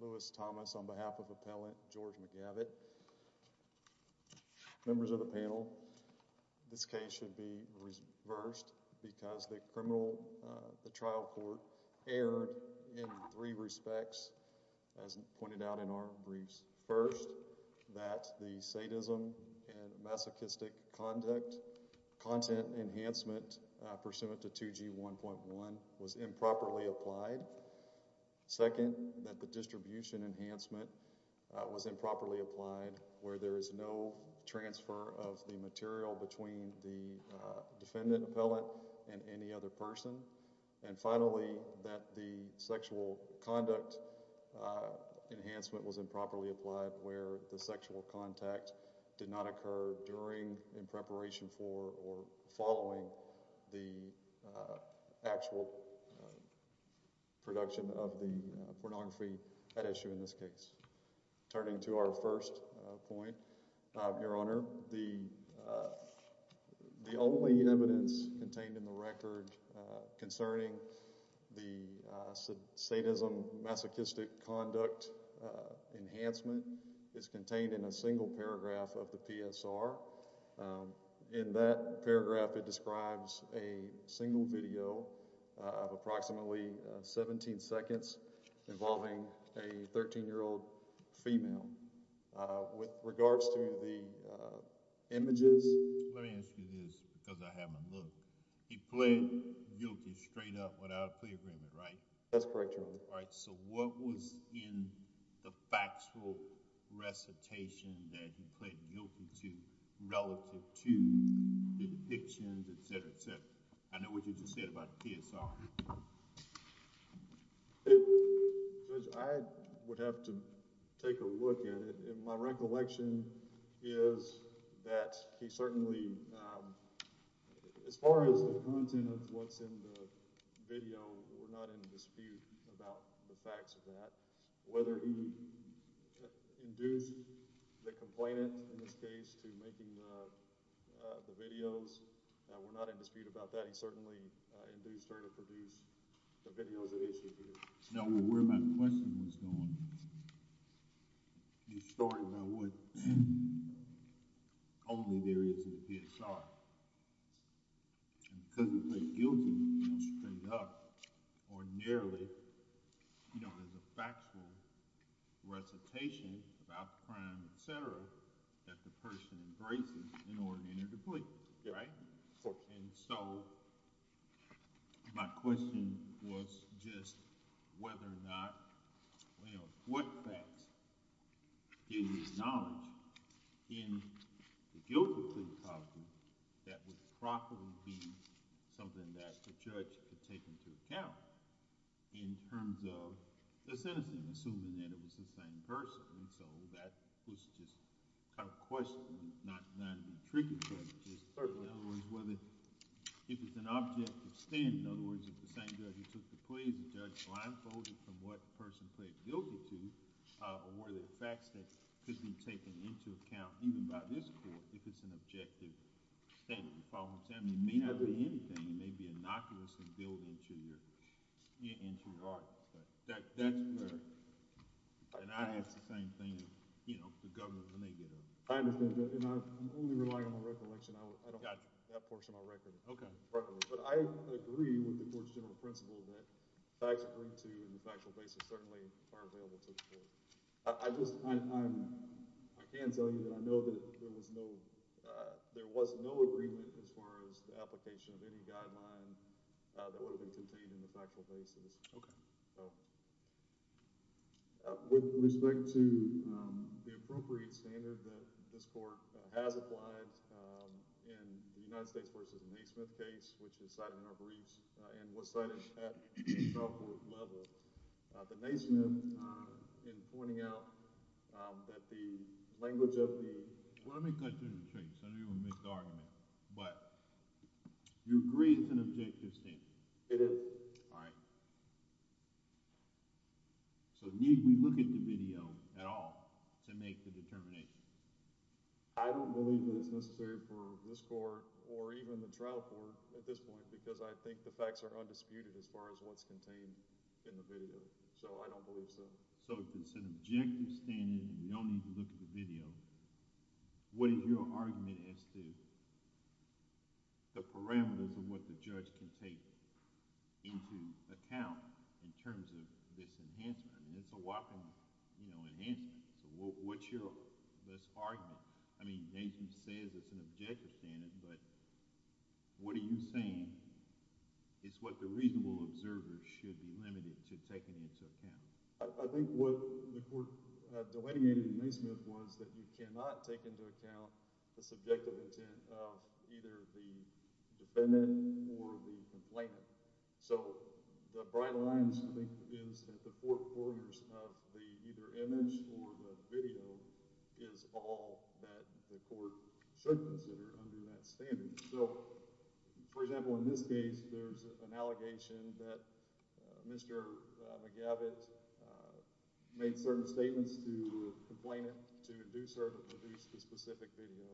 Lewis Thomas on behalf of Appellant George McGavitt. Members of the panel, this case should be reversed because the criminal trial court erred in three respects as pointed out in our briefs. First, that the sadism and masochistic conduct content enhancement pursuant to 2G 1.1 was improperly applied. Second, that the distribution enhancement was improperly applied where the sexual contact did not occur during, in preparation for, or following the actual production of the pornography at issue in this case. Turning to our first point, Your Honor, the only evidence contained in the record concerning the sadism masochistic conduct enhancement is contained in a single paragraph of the PSR. In that paragraph, it describes a sexual contact that occurred during the production of the pornography at issue in this case. In that paragraph, it describes a single paragraph of the PSR. In that paragraph, it describes a is that he certainly, as far as the content of what's in the video, we're not in dispute about the facts of that. Whether he induced the complainant in this case to making the videos, we're not in dispute about that. He certainly induced her to produce the videos at issue here. Now, where my question was going, you started by what only there is in the PSR. And because it's a guilty, you know, straight up, ordinarily, you know, there's a factual recitation about crime, et cetera, that the person embraces in order to enter the plea, right? And so my question was just whether or not, you know, what facts do you acknowledge in the guilt of plea property that would probably be something that the judge could take into account in terms of the citizen, assuming that it was the same person. And so that was just kind of a question, not to be tricky. In other words, if it's an objective stand, in other words, if the same judge who took the plea, the judge blindfolded from what person pleaded guilty to, were there facts that could be taken into account, even by this court, if it's an objective statement. The following statement may not be anything, it may be innocuous and build into your art. And I ask the same thing of, you know, the governor when they get up. I understand that. And I'm only relying on my recollection. I don't have that portion of my record. Okay. But I agree with the court's general principle that facts agreed to in the factual basis certainly are available to the court. I just, I can tell you that I know that there was no, there was no agreement as far as the application of any guideline that would have been contained in the factual basis. Okay. So with respect to the appropriate standard that this court has applied in the United States versus the Naismith case, which is cited in our briefs and was cited at the trial court level, the Naismith in pointing out that the language of the... Well, let me cut to the chase. I know you want to make the argument, but you agree it's an objective statement. It is. All right. So need we look at the video at all to make the determination? I don't believe that it's necessary for this court or even the trial court at this point, because I think the facts are undisputed as far as what's contained in the video. So I don't believe so. So if it's an objective standard and you don't need to look at the video, what is your argument as to the parameters of what the judge can take into account in terms of this enhancement? I mean, it's a whopping, you know, enhancement. So what's your, this argument? I mean, Naismith says it's an objective standard, but what are you saying is what the reasonable observers should be limited to taking into account? I think what the court delineated was that you cannot take into account the subjective intent of either the defendant or the complainant. So the bright lines, I think, is that the four corners of the either image or the video is all that the court should consider under that standard. So, for example, in this case, the plaintiff, the complainant, to induce her to produce the specific video.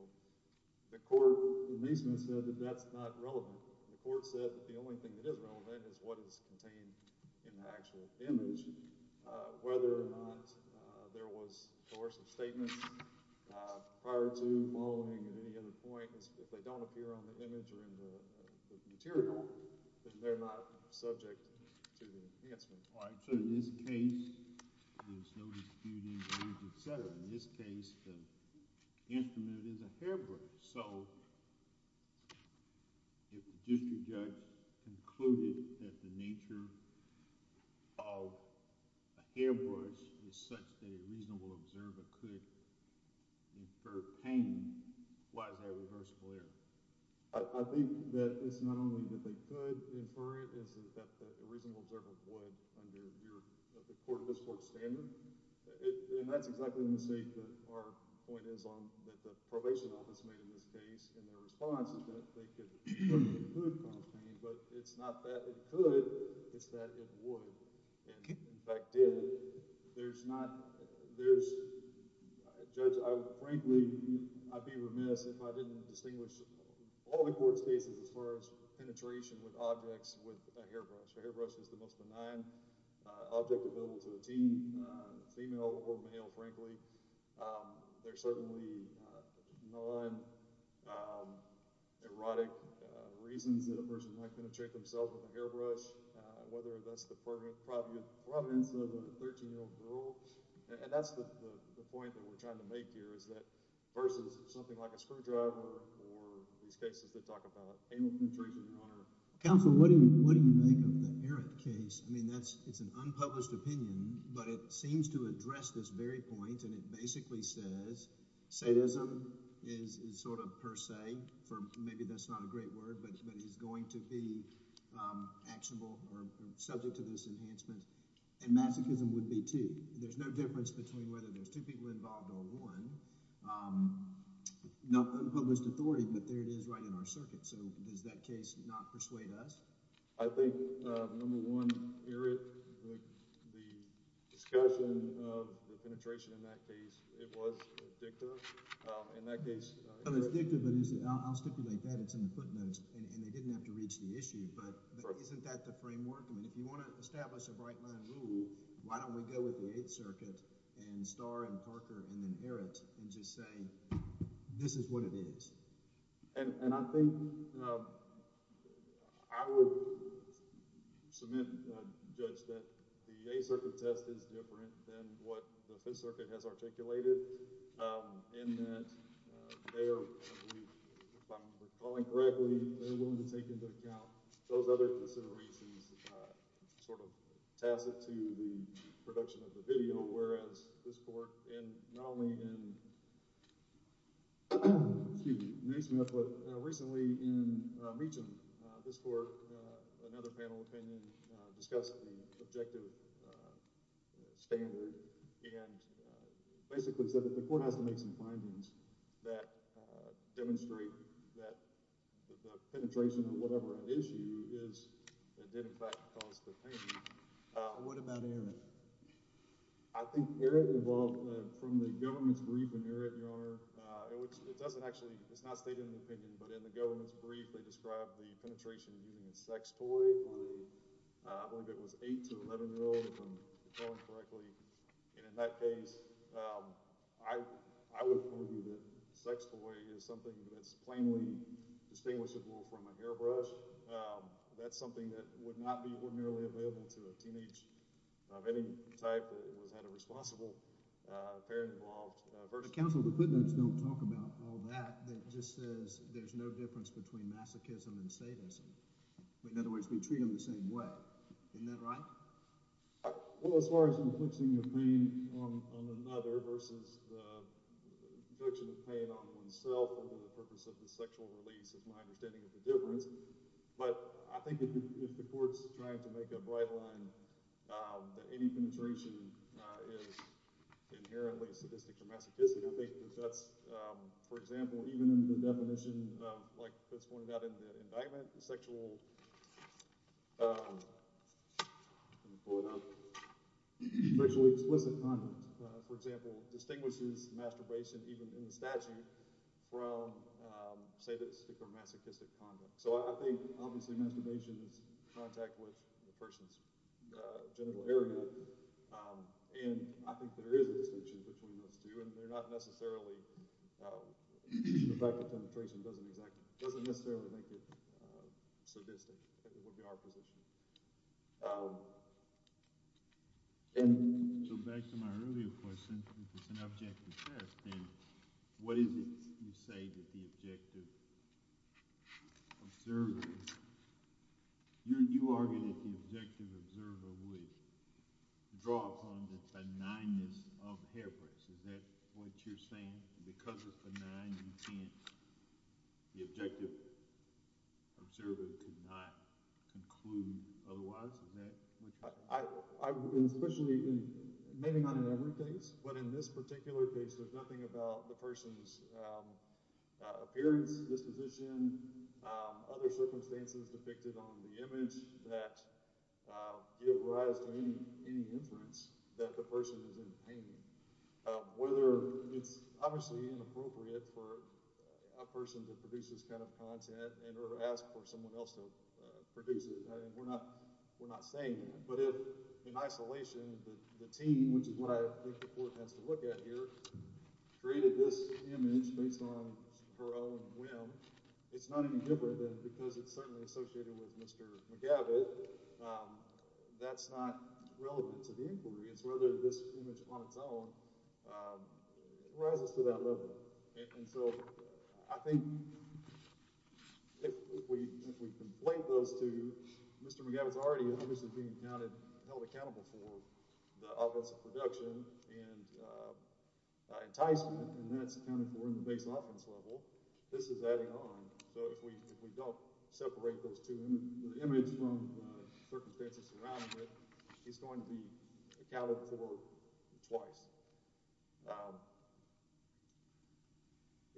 The court, Naismith said that that's not relevant. The court said that the only thing that is relevant is what is contained in the actual image. Whether or not there was coercive statements prior to following at any other point, if they don't appear on the image or in the material, then they're not subject to the enhancement. All right, so in this case, there's no dispute, et cetera. In this case, the instrument is a hairbrush. So if the district judge concluded that the nature of a hairbrush is such that a reasonable observer could infer pain, why is that a reversible error? I think that it's not that they could infer it. It's that a reasonable observer would under this court's standard. And that's exactly the mistake that our point is on that the probation office made in this case in their response, that they could confirm that it could cause pain. But it's not that it could, it's that it would. And, in fact, did. Judge, frankly, I'd be remiss if I didn't distinguish all the court's cases as far as penetration with objects with a hairbrush. A hairbrush is the most benign object available to a teen, female or male, frankly. There are certainly non-erotic reasons that a person might penetrate themselves with a hairbrush, whether that's the prominence of a 13-year-old girl. And that's the point that we're trying to make here is that versus something like a screwdriver or these cases that talk about anal penetration. Counsel, what do you what do you make of the Eric case? I mean, that's it's an unpublished opinion, but it seems to address this very point. And it basically says sadism is sort of per se, for maybe that's not a great word, but it's going to be actionable or subject to this enhancement. And masochism would be too. There's no difference between whether there's two people involved or one. Not unpublished authority, but there it is right in our circuit. So does that case not persuade us? I think, number one, Eric, the discussion of the penetration in that case, it was addictive. In that case, it's addictive, but I'll stipulate that it's in the footnotes and they didn't have to reach the issue. But isn't that the framework? I mean, if you want to establish a bright line rule, why don't we go with the Eighth Circuit and Starr and Parker and then Eric and just say, this is what it is. And I think I will submit, Judge, that the Eighth Circuit test is different than what the Fifth Circuit has articulated in that they are, if I'm recalling correctly, they're willing to take into account those other considerations sort of tacit to the production of the video, whereas this court, and not only in, excuse me, Newsmith, but recently in Meacham, this court, another panel opinion discussed the objective standard and basically said that the court has to make some findings that demonstrate that the penetration or whatever the issue is, it did, in fact, cause the pain. What about Eric? I think Eric involved from the government's brief, and Eric, Your Honor, it doesn't actually, it's not stated in the opinion, but in the government's brief, they described the penetration of using a sex toy by, I believe it was eight to 11-year-olds, if I'm recalling correctly, and in that case, I would argue that sex toy is something that's plainly distinguishable from a hairbrush. That's something that would not be ordinarily available to a teenage of any type that was at a responsible affair-involved vertex. Counsel, the footnotes don't talk about all that. It just says there's no difference between masochism and sadism. In other words, we treat them the same way. Isn't that right? Well, as far as inflicting a pain on another versus the infliction of pain on oneself over the purpose of the sexual release is my understanding of the difference, but I think if the court's trying to make a bright line that any penetration is inherently sadistic or masochistic, I think that that's, for example, even in the definition, like Fitz pointed out in indictment, sexual, let me pull it up, sexually explicit conduct, for example, distinguishes masturbation, even in the statute, from, say, that's masochistic conduct. So I think obviously masturbation is contact with the person's genital area, and I think there is a distinction between those two, and they're not necessarily, the fact that penetration doesn't necessarily make it sadistic would be our position. So back to my earlier question, if it's an objective test, then what is it you say that the objective observer, you argue that the objective observer would draw upon the benignness of the hairbrush, is that what you're saying? Because it's benign, you can't, the objective observer could not conclude otherwise, is that what you're saying? I mean, especially, maybe not in every case, but in this particular case, there's nothing about the person's appearance, disposition, other circumstances depicted on the image that give rise to any inference that the person is in pain. Whether it's obviously inappropriate for a person to produce this kind of content, and or ask for someone else to produce it, we're not saying that, but if in isolation, the team, which is what I think the court has to look at here, created this image based on her own whim, it's not any different, because it's certainly associated with Mr. McGavitt, that's not relevant to the inquiry, it's whether this image on its own rises to that level, and so I think if we, if we conflate those two, Mr. McGavitt's already obviously being counted, held accountable for the offensive production and enticement, and that's accounted for in the base offense level, this is adding on, so if we don't separate those two, the image from the circumstances surrounding it, he's going to be accounted for twice.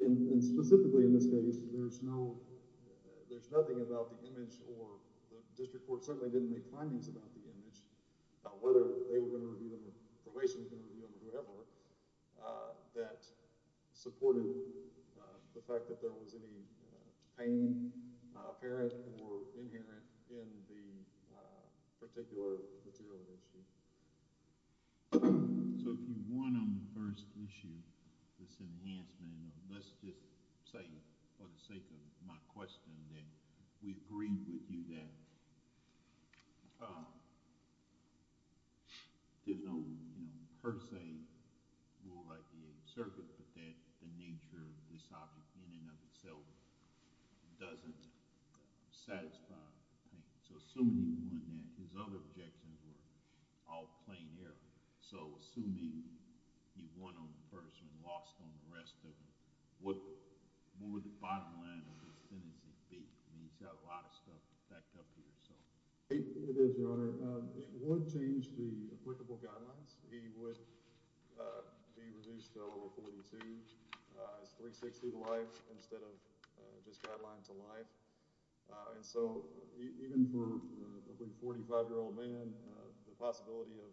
And specifically in this case, there's no, there's nothing about the image or the district court certainly didn't make findings about the image, about whether they were going to review them or probation was going to review them or whoever, that supported the fact that there was any pain apparent or inherent in the particular material issue. So if you want, on the first issue, this enhancement, let's just say for the sake of my question that we agree with you that there's no, you know, per se rule like the circuit, but that the nature of this object in and of itself doesn't satisfy the pain. So assuming he won that, his other objections were all plain air, so assuming he won on the first one, lost on the rest of them, what would the bottom line of this sentence be? I mean, he's got a lot of stuff backed up here, so. It is, your honor. It would change the applicable guidelines. He would be reduced to a level 42. It's 360 to life instead of just guideline to life. And so even for a 45-year-old man, the possibility of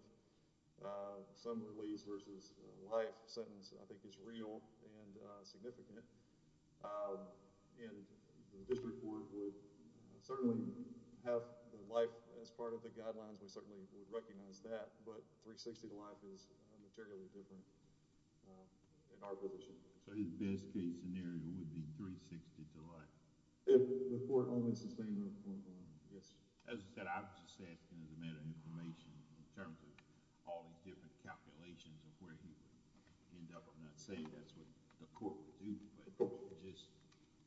some release versus life sentence I think is real and significant. And the district court would certainly have life as part of the guidelines. We certainly would recognize that, but 360 to life is generally different in our position. So his best case scenario would be 360 to life? If the court only sustains that point, yes. As I said, I'm just asking as a matter of information in terms of all these different calculations of where he would end up. I'm not saying that's what the court would do, but just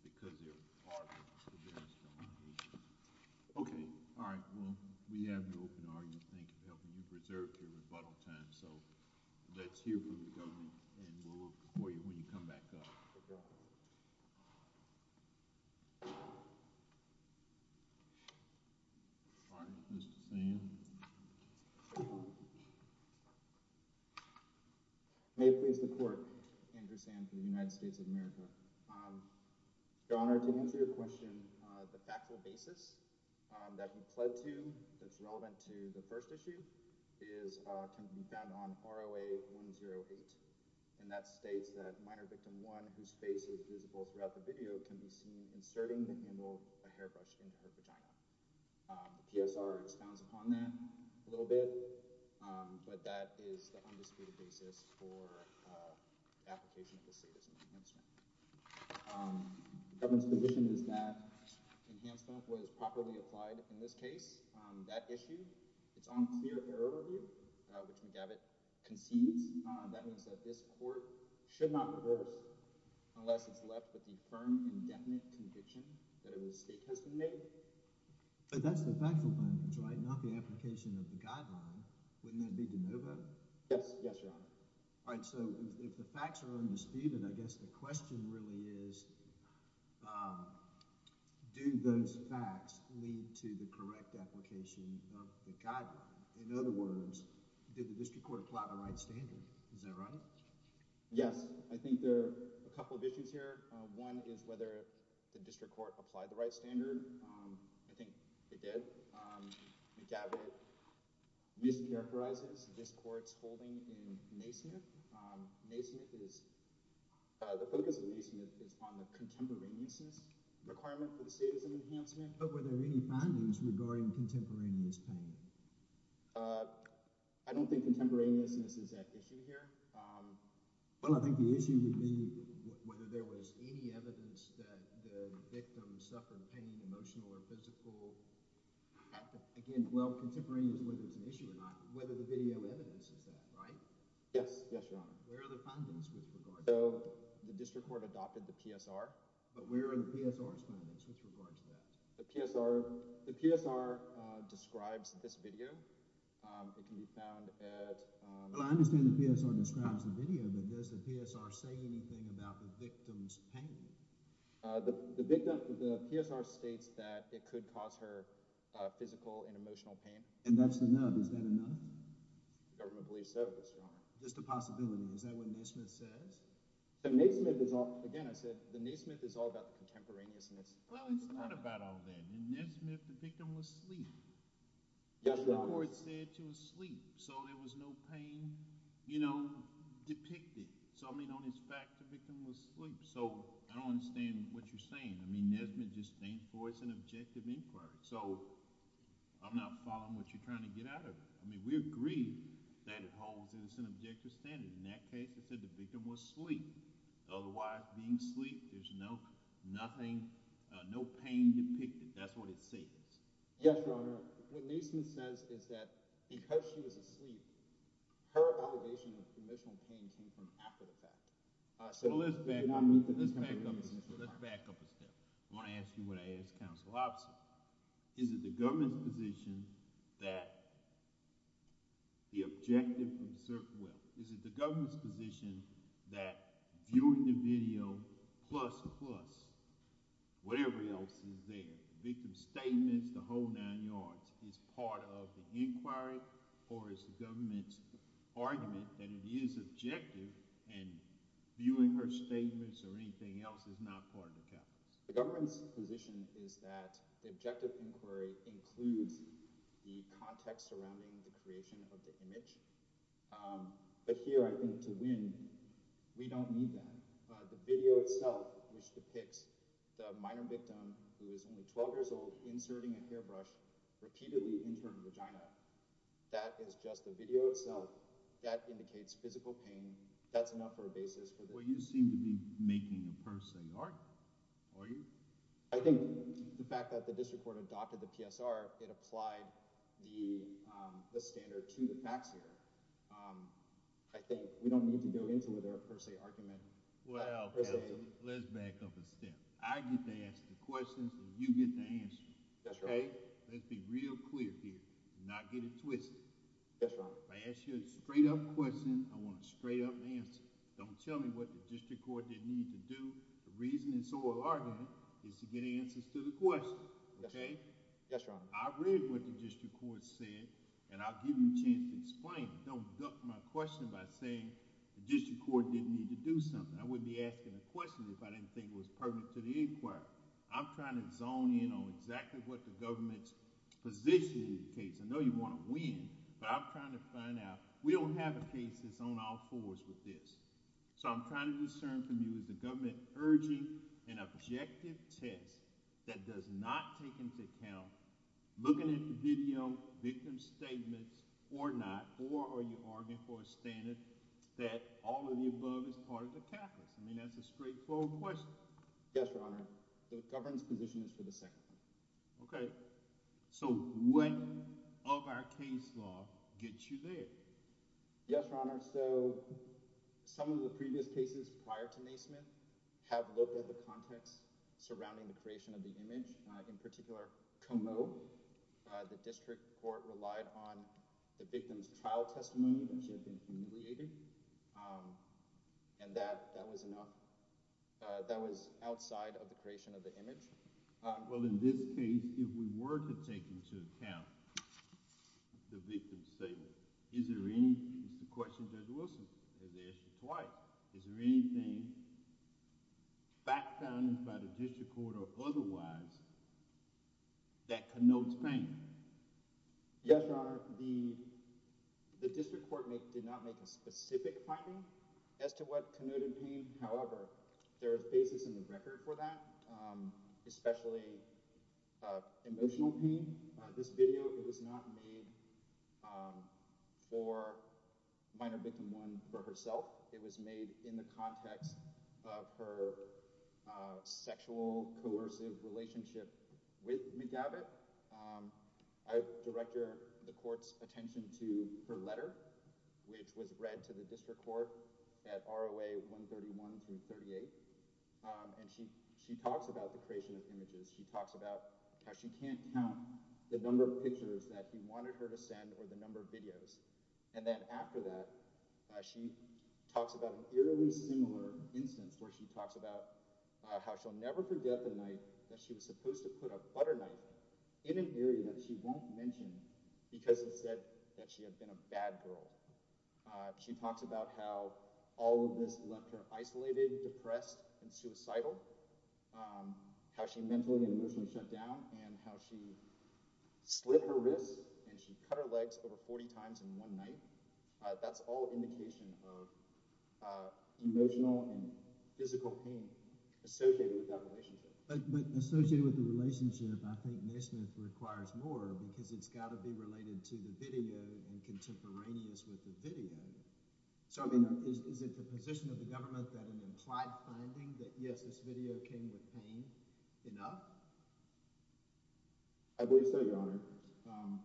because they're part of the various calculations. Okay. All right. Well, we have no open argument. Thank you for helping me preserve your rebuttal time. So let's hear from the government, and we'll look for you when you come back up. All right. Mr. Sand? May it please the court. Andrew Sand from the United States of America. Your Honor, to answer your question, the factual basis that we pled to that's relevant to the first issue can be found on ROA 108, and that states that minor victim one whose face is visible throughout the video can be seen inserting the handle of a hairbrush into her vagina. The PSR expounds upon that a little bit, but that is the undisputed basis for application of the state as an enhancement. The government's position is that enhancement was properly applied in this case. That issue, it's on clear error review, which McGavitt concedes. That means that this court should not reverse unless it's left with the firm, indefinite conviction that a mistake has been made. But that's the factual basis, right? Not the application of the guideline. Wouldn't that be de novo? Yes. Yes, Your Honor. All right. So if the facts are undisputed, I guess the question really is, do those facts lead to the correct application of the guideline? In other words, did the district court apply the right standard? Is that right? Yes. I think there are a couple of issues here. One is whether the district court applied the right standard. I think it did. McGavitt mischaracterizes this court's holding in Naismith. The focus of Naismith is on the contemporaneousness requirement for the state as an enhancement. Were there any findings regarding contemporaneous pain? I don't think contemporaneousness is at issue here. Well, I think the issue would be whether there was any evidence that the victim suffered pain, emotional or physical. Again, well, contemporaneous, whether it's an issue or not, whether the video evidence is that, right? Yes. Yes, Your Honor. Where are the findings with regard to that? So the district court adopted the PSR. But where are the PSR's findings with regard to that? The PSR describes this video. It can be found at... Well, I understand the PSR describes the video, but does the PSR say anything about the victim's pain? The PSR states that it could cause her physical and emotional pain. And that's enough. Is that enough? The government believes so, Your Honor. Just a possibility. Is that what Naismith says? Again, I said the Naismith is all about contemporaneousness. Well, it's not about all that. In Naismith, the victim was asleep. Yes, Your Honor. The court said she was asleep, so there was no pain, you know, depicted. So, I mean, it's fact the victim was asleep. So, I don't understand what you're saying. I mean, Naismith just stands for it's an objective inquiry. So, I'm not following what you're trying to get out of it. I mean, we agree that it holds it's an objective standard. In that case, it said the victim was asleep. Otherwise, being asleep, there's no pain depicted. That's what it says. Yes, Your Honor. What Naismith says is that because she was asleep, her allegation of emotional pain came from after the fact. So, let's back up a step. I want to ask you what I ask counsel opposite. Is it the government's position that the objective of certain, well, is it the government's position that viewing the video plus whatever else is there, the victim's statements, the whole nine yards is part of the inquiry or is the government's argument that it is objective and viewing her statements or anything else is not part of the case? The government's position is that the objective inquiry includes the context surrounding the creation of the image. But here, I think to win, we don't need that. The video itself, which depicts the minor victim, who is only 12 years old, inserting a hairbrush repeatedly in her vagina, that is just the video itself. That indicates physical pain. That's enough for a basis. Well, you seem to be making a per se argument. Are you? I think the fact that the district court adopted the PSR, it applied the standard to the facts here. I think we don't need to go into it with a per se argument. Well, let's back up a step. I get to ask the questions and you get the answers. That's right. Let's be real clear here. Do not get it twisted. I asked you a straight up question. I want a straight up answer. Don't tell me what the district court didn't need to do. The reason it's so alarming is to get answers to the question. OK, I read what the district court said and I'll give you a chance to explain it. Don't do something. I wouldn't be asking a question if I didn't think it was pertinent to the inquiry. I'm trying to zone in on exactly what the government's position is. I know you want to win, but I'm trying to find out. We don't have a case that's on all fours with this. So I'm trying to discern from you, is the government urging an objective test that does not take into account looking at the video victim statements or not? Or are you arguing for a all of the above as part of the calculus? I mean, that's a straightforward question. Yes, Your Honor. The government's position is for the second. OK, so when of our case law gets you there? Yes, Your Honor. So some of the previous cases prior to Naismith have looked at the context surrounding the creation of the image. In particular, Como, the district court relied on the victim's trial testimony that she had been humiliated. And that that was enough. That was outside of the creation of the image. Well, in this case, if we were to take into account the victim statement, is there any question that Wilson has asked twice? Is there anything back down by the district court or otherwise that connotes pain? Yes, Your Honor. The district court did not make a specific finding as to what connoted pain. However, there is basis in the record for that, especially emotional pain. This video was not made for minor victim one for herself. It was made in the context of her sexual coercive relationship with McGavitt. I direct the court's attention to her letter, which was read to the district court at ROA 131 through 38. And she she talks about the creation of images. She talks about how she can't count the number of pictures that he wanted her to send or the number of videos. And then after that, she talks about an eerily similar instance where she talks about how she'll put a butter knife in an area that she won't mention because it said that she had been a bad girl. She talks about how all of this left her isolated, depressed and suicidal, how she mentally and emotionally shut down and how she slit her wrists and she cut her legs over 40 times in one night. That's all indication of emotional and physical pain associated with that relationship. But associated with the relationship, I think Nesmith requires more because it's got to be related to the video and contemporaneous with the video. So I mean, is it the position of the government that an implied finding that, yes, this video came with pain enough? I believe so, your honor.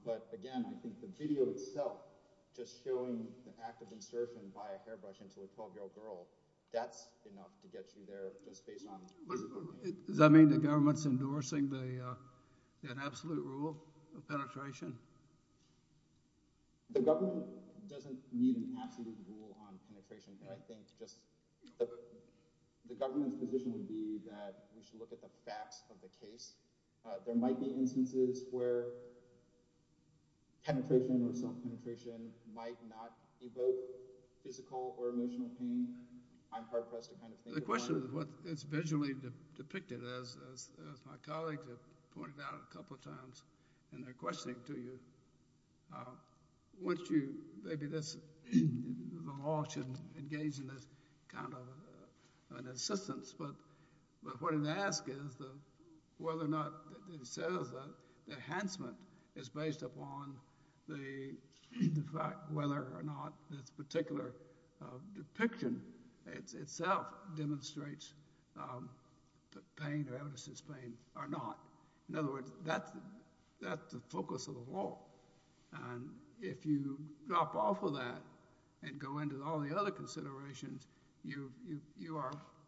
But again, I think the video itself just showing the act of insertion by a hairbrush into a 12 year old girl, that's enough to get you there just based on Does that mean the government's endorsing that absolute rule of penetration? The government doesn't need an absolute rule on penetration. I think just the government's position would be that we should look at the facts of the case. There might be instances where penetration or self-penetration might not evoke physical or depicted as my colleagues have pointed out a couple of times in their questioning to you. Maybe the law shouldn't engage in this kind of an assistance, but what it asks is whether or not it says that the enhancement is based upon the fact whether or not this particular depiction itself demonstrates the pain or evidence of this pain or not. In other words, that's the focus of the law. And if you drop off of that and go into all the other considerations, you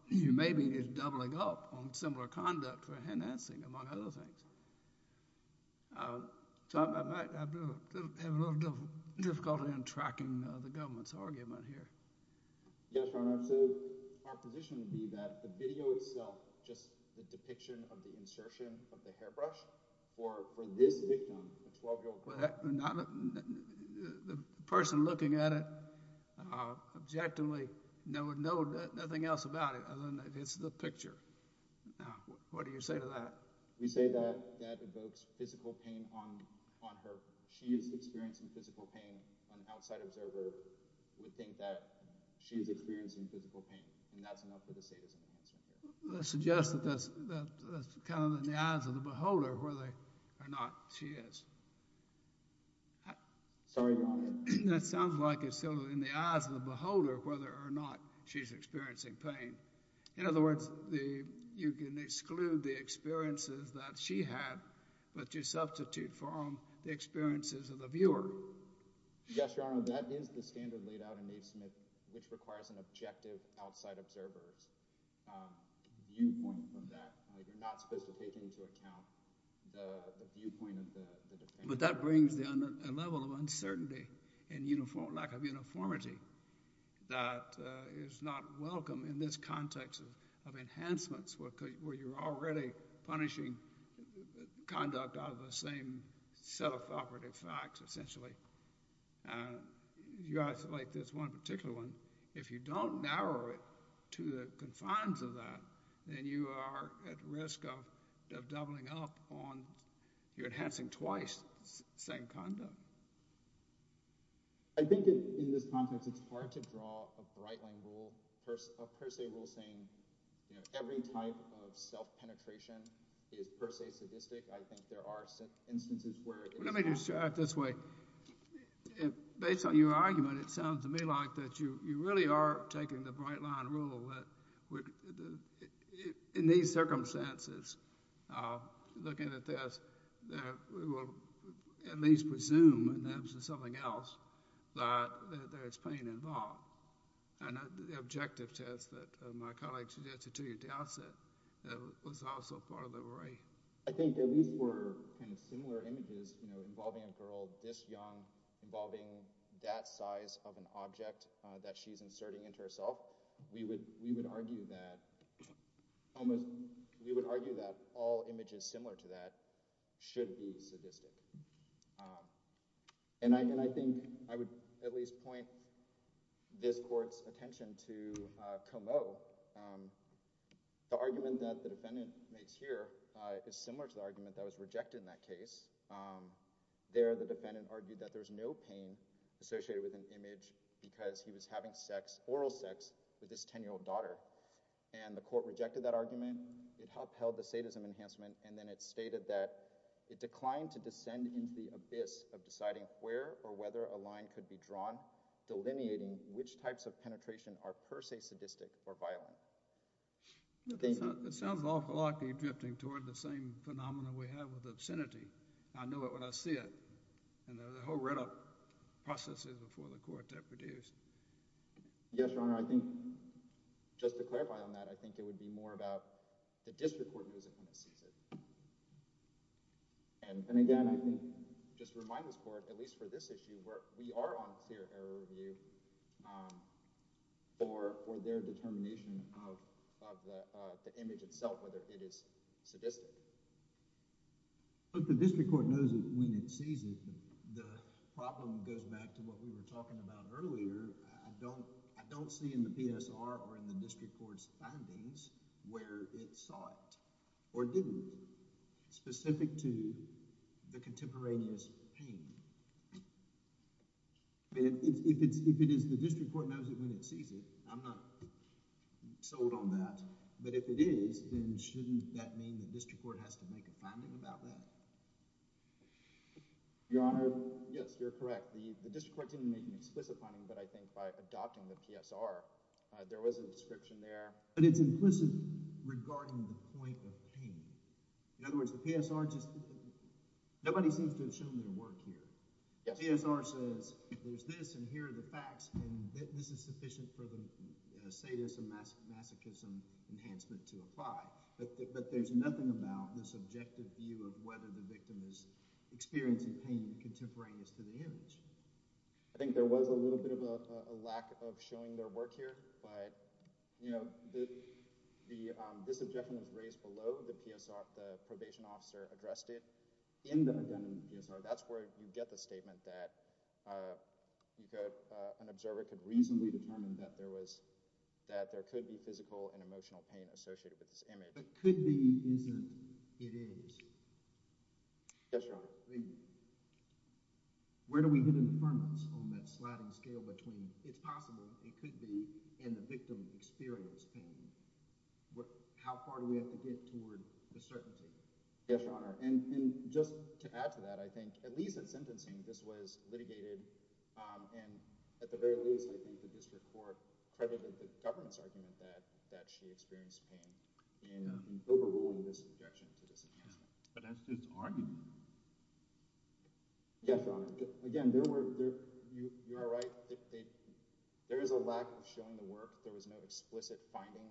may be just doubling up on similar conduct for enhancing among other things. So I have a little difficulty in understanding the government's argument here. Yes, Your Honor. So our position would be that the video itself, just the depiction of the insertion of the hairbrush for this victim, a 12 year old girl. The person looking at it objectively knows nothing else about it other than that it's the picture. Now, what do you say to that? We say that that evokes physical pain on her. She is experiencing physical pain. An outside observer would think that she is experiencing physical pain, and that's enough for the sadism enhancer here. I suggest that that's kind of in the eyes of the beholder whether or not she is. Sorry, Your Honor. That sounds like it's still in the eyes of the beholder whether or not she's experiencing pain. In other words, you can exclude the experiences that she had, but you substitute for them the experiences of the viewer. Yes, Your Honor. That is the standard laid out in Naismith, which requires an objective outside observer's viewpoint from that. You're not supposed to take into account the viewpoint of the defender. But that brings a level of uncertainty and lack of uniformity that is not welcome in this context of enhancements where you're already punishing conduct out of the same set of operative facts, essentially. You have to like this one particular one. If you don't narrow it to the confines of that, then you are at risk of doubling up on your enhancing twice the same conduct. I think in this context, it's hard to draw a bright line rule, a per se rule saying, you know, every type of self-penetration is per se sadistic. I think there are instances where Let me just try it this way. Based on your argument, it sounds to me like that you really are taking the bright line rule that in these circumstances, looking at this, that we will at least presume, and that's something else, that there's pain involved. And the objective test that my colleague suggested to you at the outset, that was also part of the array. I think that these were kind of similar images, you know, involving a girl this young, involving that size of an object that she's inserting into herself. We would argue that almost, we would argue that all images similar to that should be sadistic. And I think I would at least point this court's attention to Comeau. The argument that the defendant makes here is similar to the argument that was rejected in that case. There, the defendant argued that there's no pain associated with an image because he was having oral sex with this 10-year-old daughter. And the court rejected that argument. It upheld the sadism enhancement, and then it stated that it declined to descend into the abyss of deciding where or whether a line could be drawn, delineating which types of penetration are per se sadistic or violent. It sounds awful likely drifting toward the same phenomenon we have with obscenity. I know it when I see it, and the whole readout process is before the court to produce. Yes, Your Honor, I think just to clarify on that, I think it would be more about the district court knows it when it sees it. And again, I think just to remind this court, at least for this issue, we are on clear error review for their determination of the image itself, whether it is sadistic. But the district court knows it when it sees it. The problem goes back to what we were talking about earlier. I don't see in the PSR or in the district court's findings where it saw it or didn't, specific to the contemporaneous pain. If it is the district court knows it when it sees it, I'm not sold on that. But if it is, then shouldn't that mean the district court has to make a finding about that? Your Honor, yes, you're correct. The district court didn't make an explicit finding, but I think by adopting the PSR, there was a description there. But it's implicit regarding the point of pain. In other words, the PSR just nobody seems to have shown their work here. The PSR says there's this and here are the facts and this is sufficient for the sadism masochism enhancement to apply. But there's nothing about the subjective view of whether the victim is experiencing pain contemporaneous to the image. I think there was a little bit of a lack of showing their work here, but you know, this objection was raised below the PSR. The probation officer addressed it in the PSR. That's where you get the statement that an observer could reasonably determine that there was, that there could be physical and emotional pain associated with this image. But could be isn't, it is. Yes, Your Honor. Where do we get informants on that sliding scale between it's possible it could be and the victim experienced pain? What, how far do we have to get toward the certainty? Yes, Your Honor. And just to add to that, I think at least in sentencing, this was litigated. And at the very least, I think the district court credited the governance argument that that she experienced pain in overruling this objection to this. But that's just argument. Yes, Your Honor. Again, there were, you're right. There is a lack of showing the work. There was no explicit finding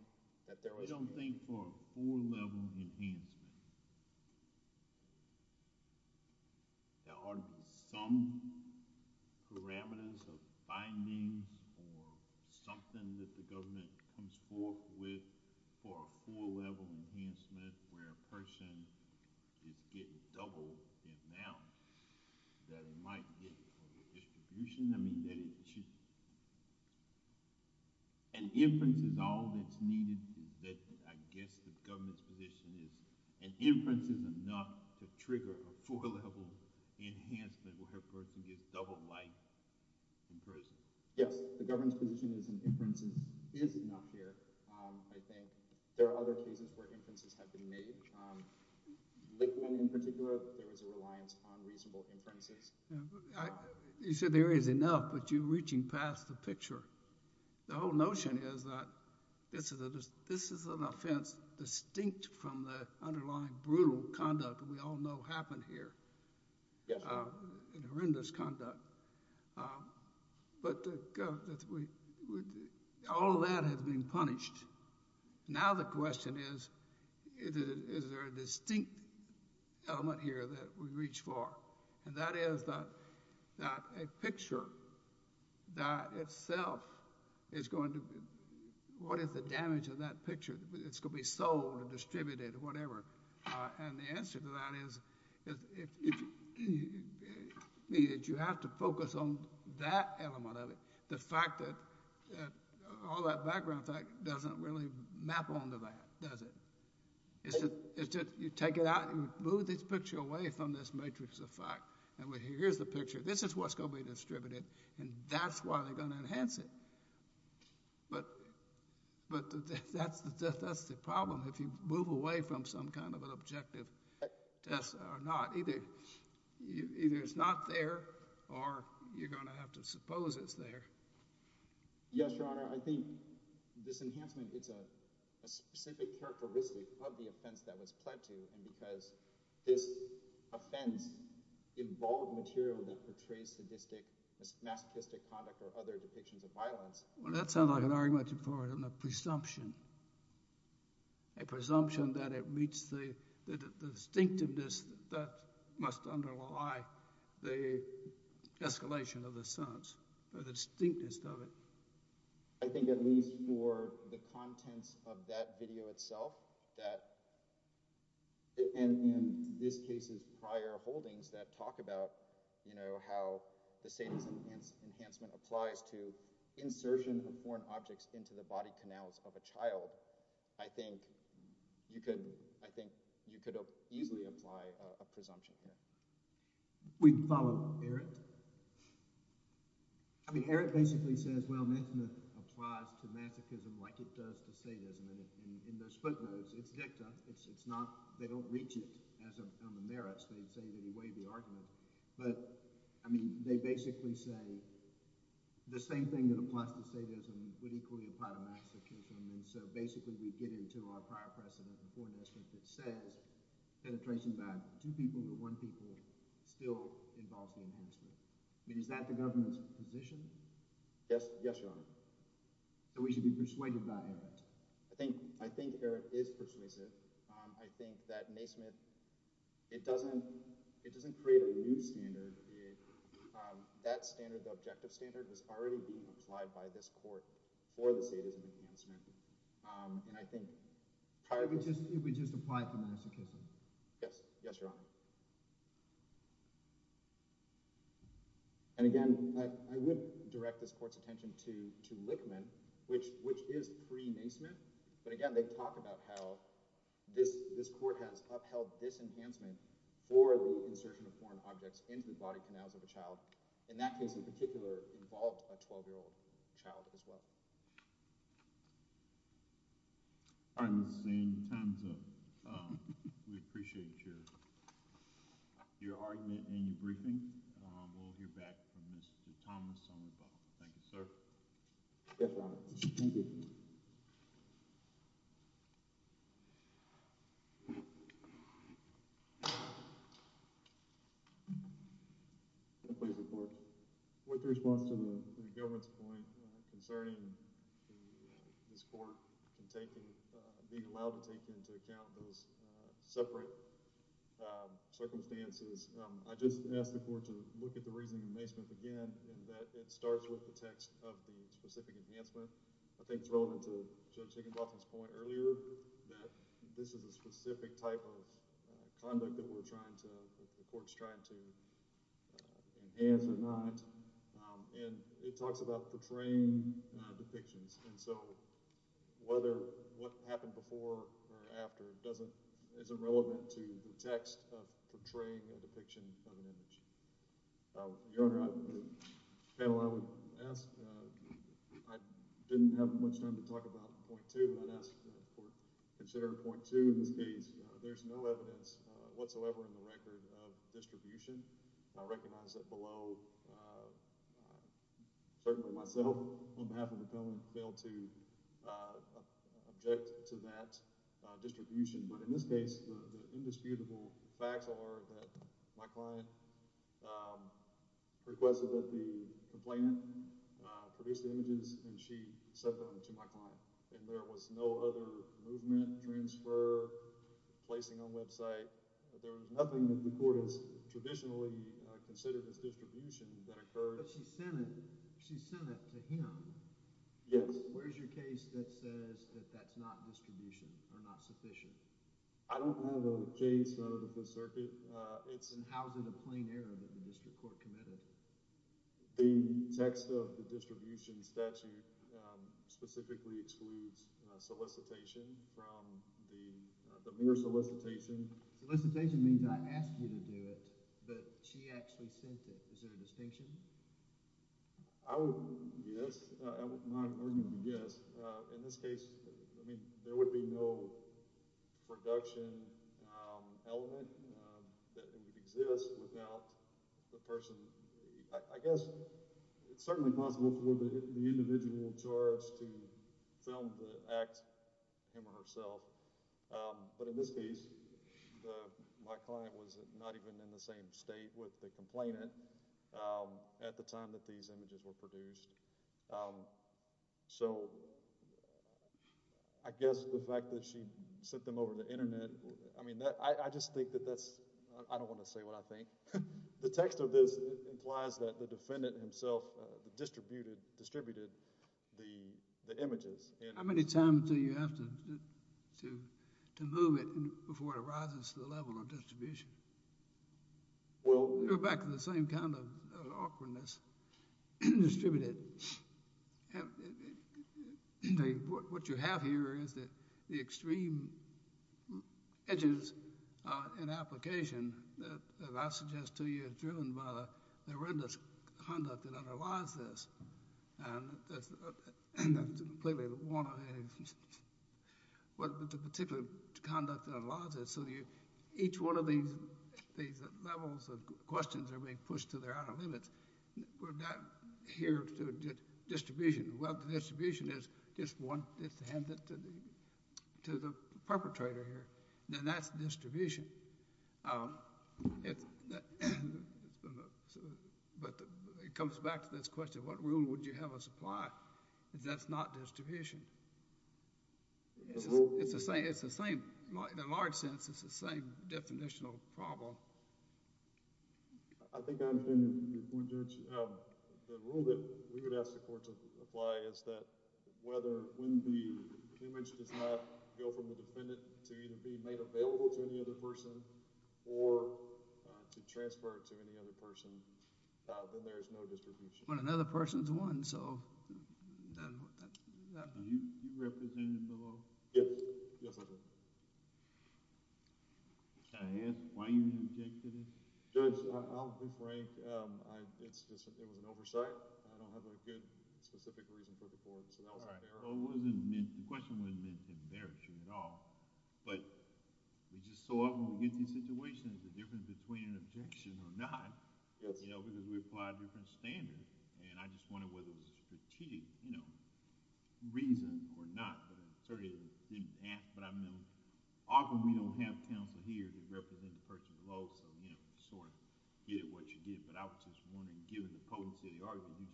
that there was. I don't think for a four level enhancement, there are some parameters of findings or something that the government comes forth with for a four level enhancement where a person is getting double the amount that it might get for redistribution. I mean that it should, an inference is all that's needed that I guess the government's position is an inference is enough to trigger a four level enhancement where a person gets double life in prison. Yes, the government's position is an inference is enough here. I think there are other cases where inferences have been made. Lickman in particular, there was a reliance on reasonable inferences. You said there is enough, but you're reaching past the picture. The whole notion is that this is an offense distinct from the underlying brutal conduct that we all know happened here, horrendous conduct. But all of that has been punished. Now the question is, is there a distinct element here that we reach for? And that is that a picture that itself is going to, what is the damage of that picture? It's going to be sold or distributed or whatever. And the answer to that is you have to focus on that element of it. The fact that all that background doesn't really map onto that, does it? It's just you take it out and move this picture away from this matrix of fact. And here's the picture. This is what's going to be distributed and that's why they're going to enhance it. But that's the problem. If you move away from some kind of an objective test or not, either it's not there or you're going to have to suppose it's there. Yes, Your Honor. I think this enhancement, it's a specific characteristic of the offense that was pled to. And because this offense involved material that portrays sadistic, masochistic conduct or other depictions of violence. Well, that sounds like a presumption. A presumption that it meets the distinctiveness that must underlie the escalation of the sentence or the distinctiveness of it. I think at least for the contents of that video itself that, and in this case's prior holdings that talk about, you know, how the into the body canals of a child. I think you could easily apply a presumption here. We follow Eric. I mean, Eric basically says, well, Methameth applies to masochism like it does to sadism. And in those footnotes, it's dicta. They don't reach it on the merits. They say that he weighed the argument. But I mean, they basically say the same thing that applies to sadism would equally apply to masochism. And so basically we get into our prior precedent before Nesmith that says penetration by two people to one people still involves the enhancement. I mean, is that the government's position? Yes. Yes, Your Honor. So we should be persuaded by Eric. I think Eric is persuasive. I think that Nesmith, it doesn't create a new standard. That standard, the objective standard, has already been applied by this court for the sadism enhancement. And I think prior to this, we just applied to masochism. Yes. Yes, Your Honor. And again, I would direct this court's attention to Lickman, which is pre-Nesmith. But again, they talk about how this court has upheld this enhancement for the insertion of body canals of a child. In that case in particular, involved a 12-year-old child as well. All right, Mr. Sain, time's up. We appreciate your argument and your briefing. We'll hear back from Mr. Thomas on the phone. Thank you, sir. Yes, Your Honor. Thank you. Please report. With response to the government's point concerning this court being allowed to take into account those separate circumstances, I just ask the court to look at the reasoning of Nesmith again, in that it starts with the text of the specific enhancement. I think it's relevant to Judge Higginbotham's point earlier that this is a enhanced or not. And it talks about portraying depictions. And so whether what happened before or after doesn't, isn't relevant to the text of portraying a depiction of an image. Your Honor, the panel, I would ask, I didn't have much time to talk about point two, but I'd ask the court to consider point two in this case. There's no evidence whatsoever in the record of distribution. I recognize that below, certainly myself, on behalf of the Cullen, failed to object to that distribution. But in this case, the indisputable facts are that my client requested that the complainant produce the images and she sent them to my client. And there was no other movement, transfer, placing on website. There was nothing that the court has traditionally considered as distribution that occurred. But she sent it to him. Yes. Where's your case that says that that's not distribution or not sufficient? I don't have a case out of the Fifth Circuit. And how is it a plain error that the district court committed? The text of the solicitation from the, the mere solicitation. Solicitation means I asked you to do it, but she actually sent it. Is there a distinction? I would, yes, I would not argue yes. In this case, I mean, there would be no production element that exists without the person. I guess it's certainly possible for the individual in charge to film the act, him or herself. But in this case, my client was not even in the same state with the complainant at the time that these images were produced. So I guess the fact that she sent them over the internet, I mean, I just think that that's, I don't want to say what I think. The text of this implies that the defendant himself distributed, distributed the images. How many times do you have to, to move it before it arises to the level of distribution? Well, you're back to the same kind of awkwardness, distributed. What you have here is that the extreme edges in application that I suggest to you is driven by the horrendous conduct that underlies this. And that's, that's completely one of the particular conduct that allows it. So you, each one of these, these levels of questions are being pushed to their outer limits. We're not here to get distribution. Well, the distribution is just one, it's handed to the, perpetrator here, then that's distribution. But it comes back to this question, what rule would you have us apply? That's not distribution. It's the same, it's the same, in a large sense, it's the same definitional problem. I think I understand your point, Judge. The rule that we would ask the defendant to either be made available to any other person, or to transfer it to any other person, then there is no distribution. But another person's one, so that, that, that. Are you, you represented below? Yes, yes, I did. Can I ask why you objected it? Judge, I'll be frank, it's just, it was an oversight. I don't have a good specific reason for the board, so that was meant, the question wasn't meant to embarrass you at all, but we just, so often we get these situations, the difference between an objection or not, you know, because we apply different standards, and I just wondered whether it was a strategic, you know, reason or not, but I certainly didn't ask, but I mean, often we don't have counsel here to represent the person below, so, you know, sort of get what you get, but I was just wondering, given the potency of the argument you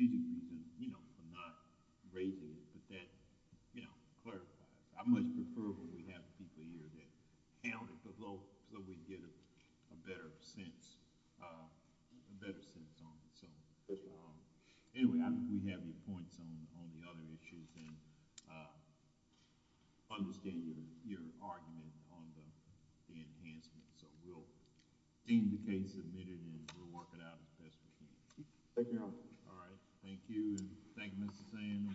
used, you know, for not raising it, but that, you know, clarifies. I much prefer when we have people here that count it below, so we get a better sense, a better sense on it, so. Anyway, I think we have your points on, on the other issues, and understand your, your argument on the, the enhancement, so we'll deem the case submitted, and we'll work it out as best we can. Thank you, Your Honor. All right, thank you, and thank you, Mr. Sands.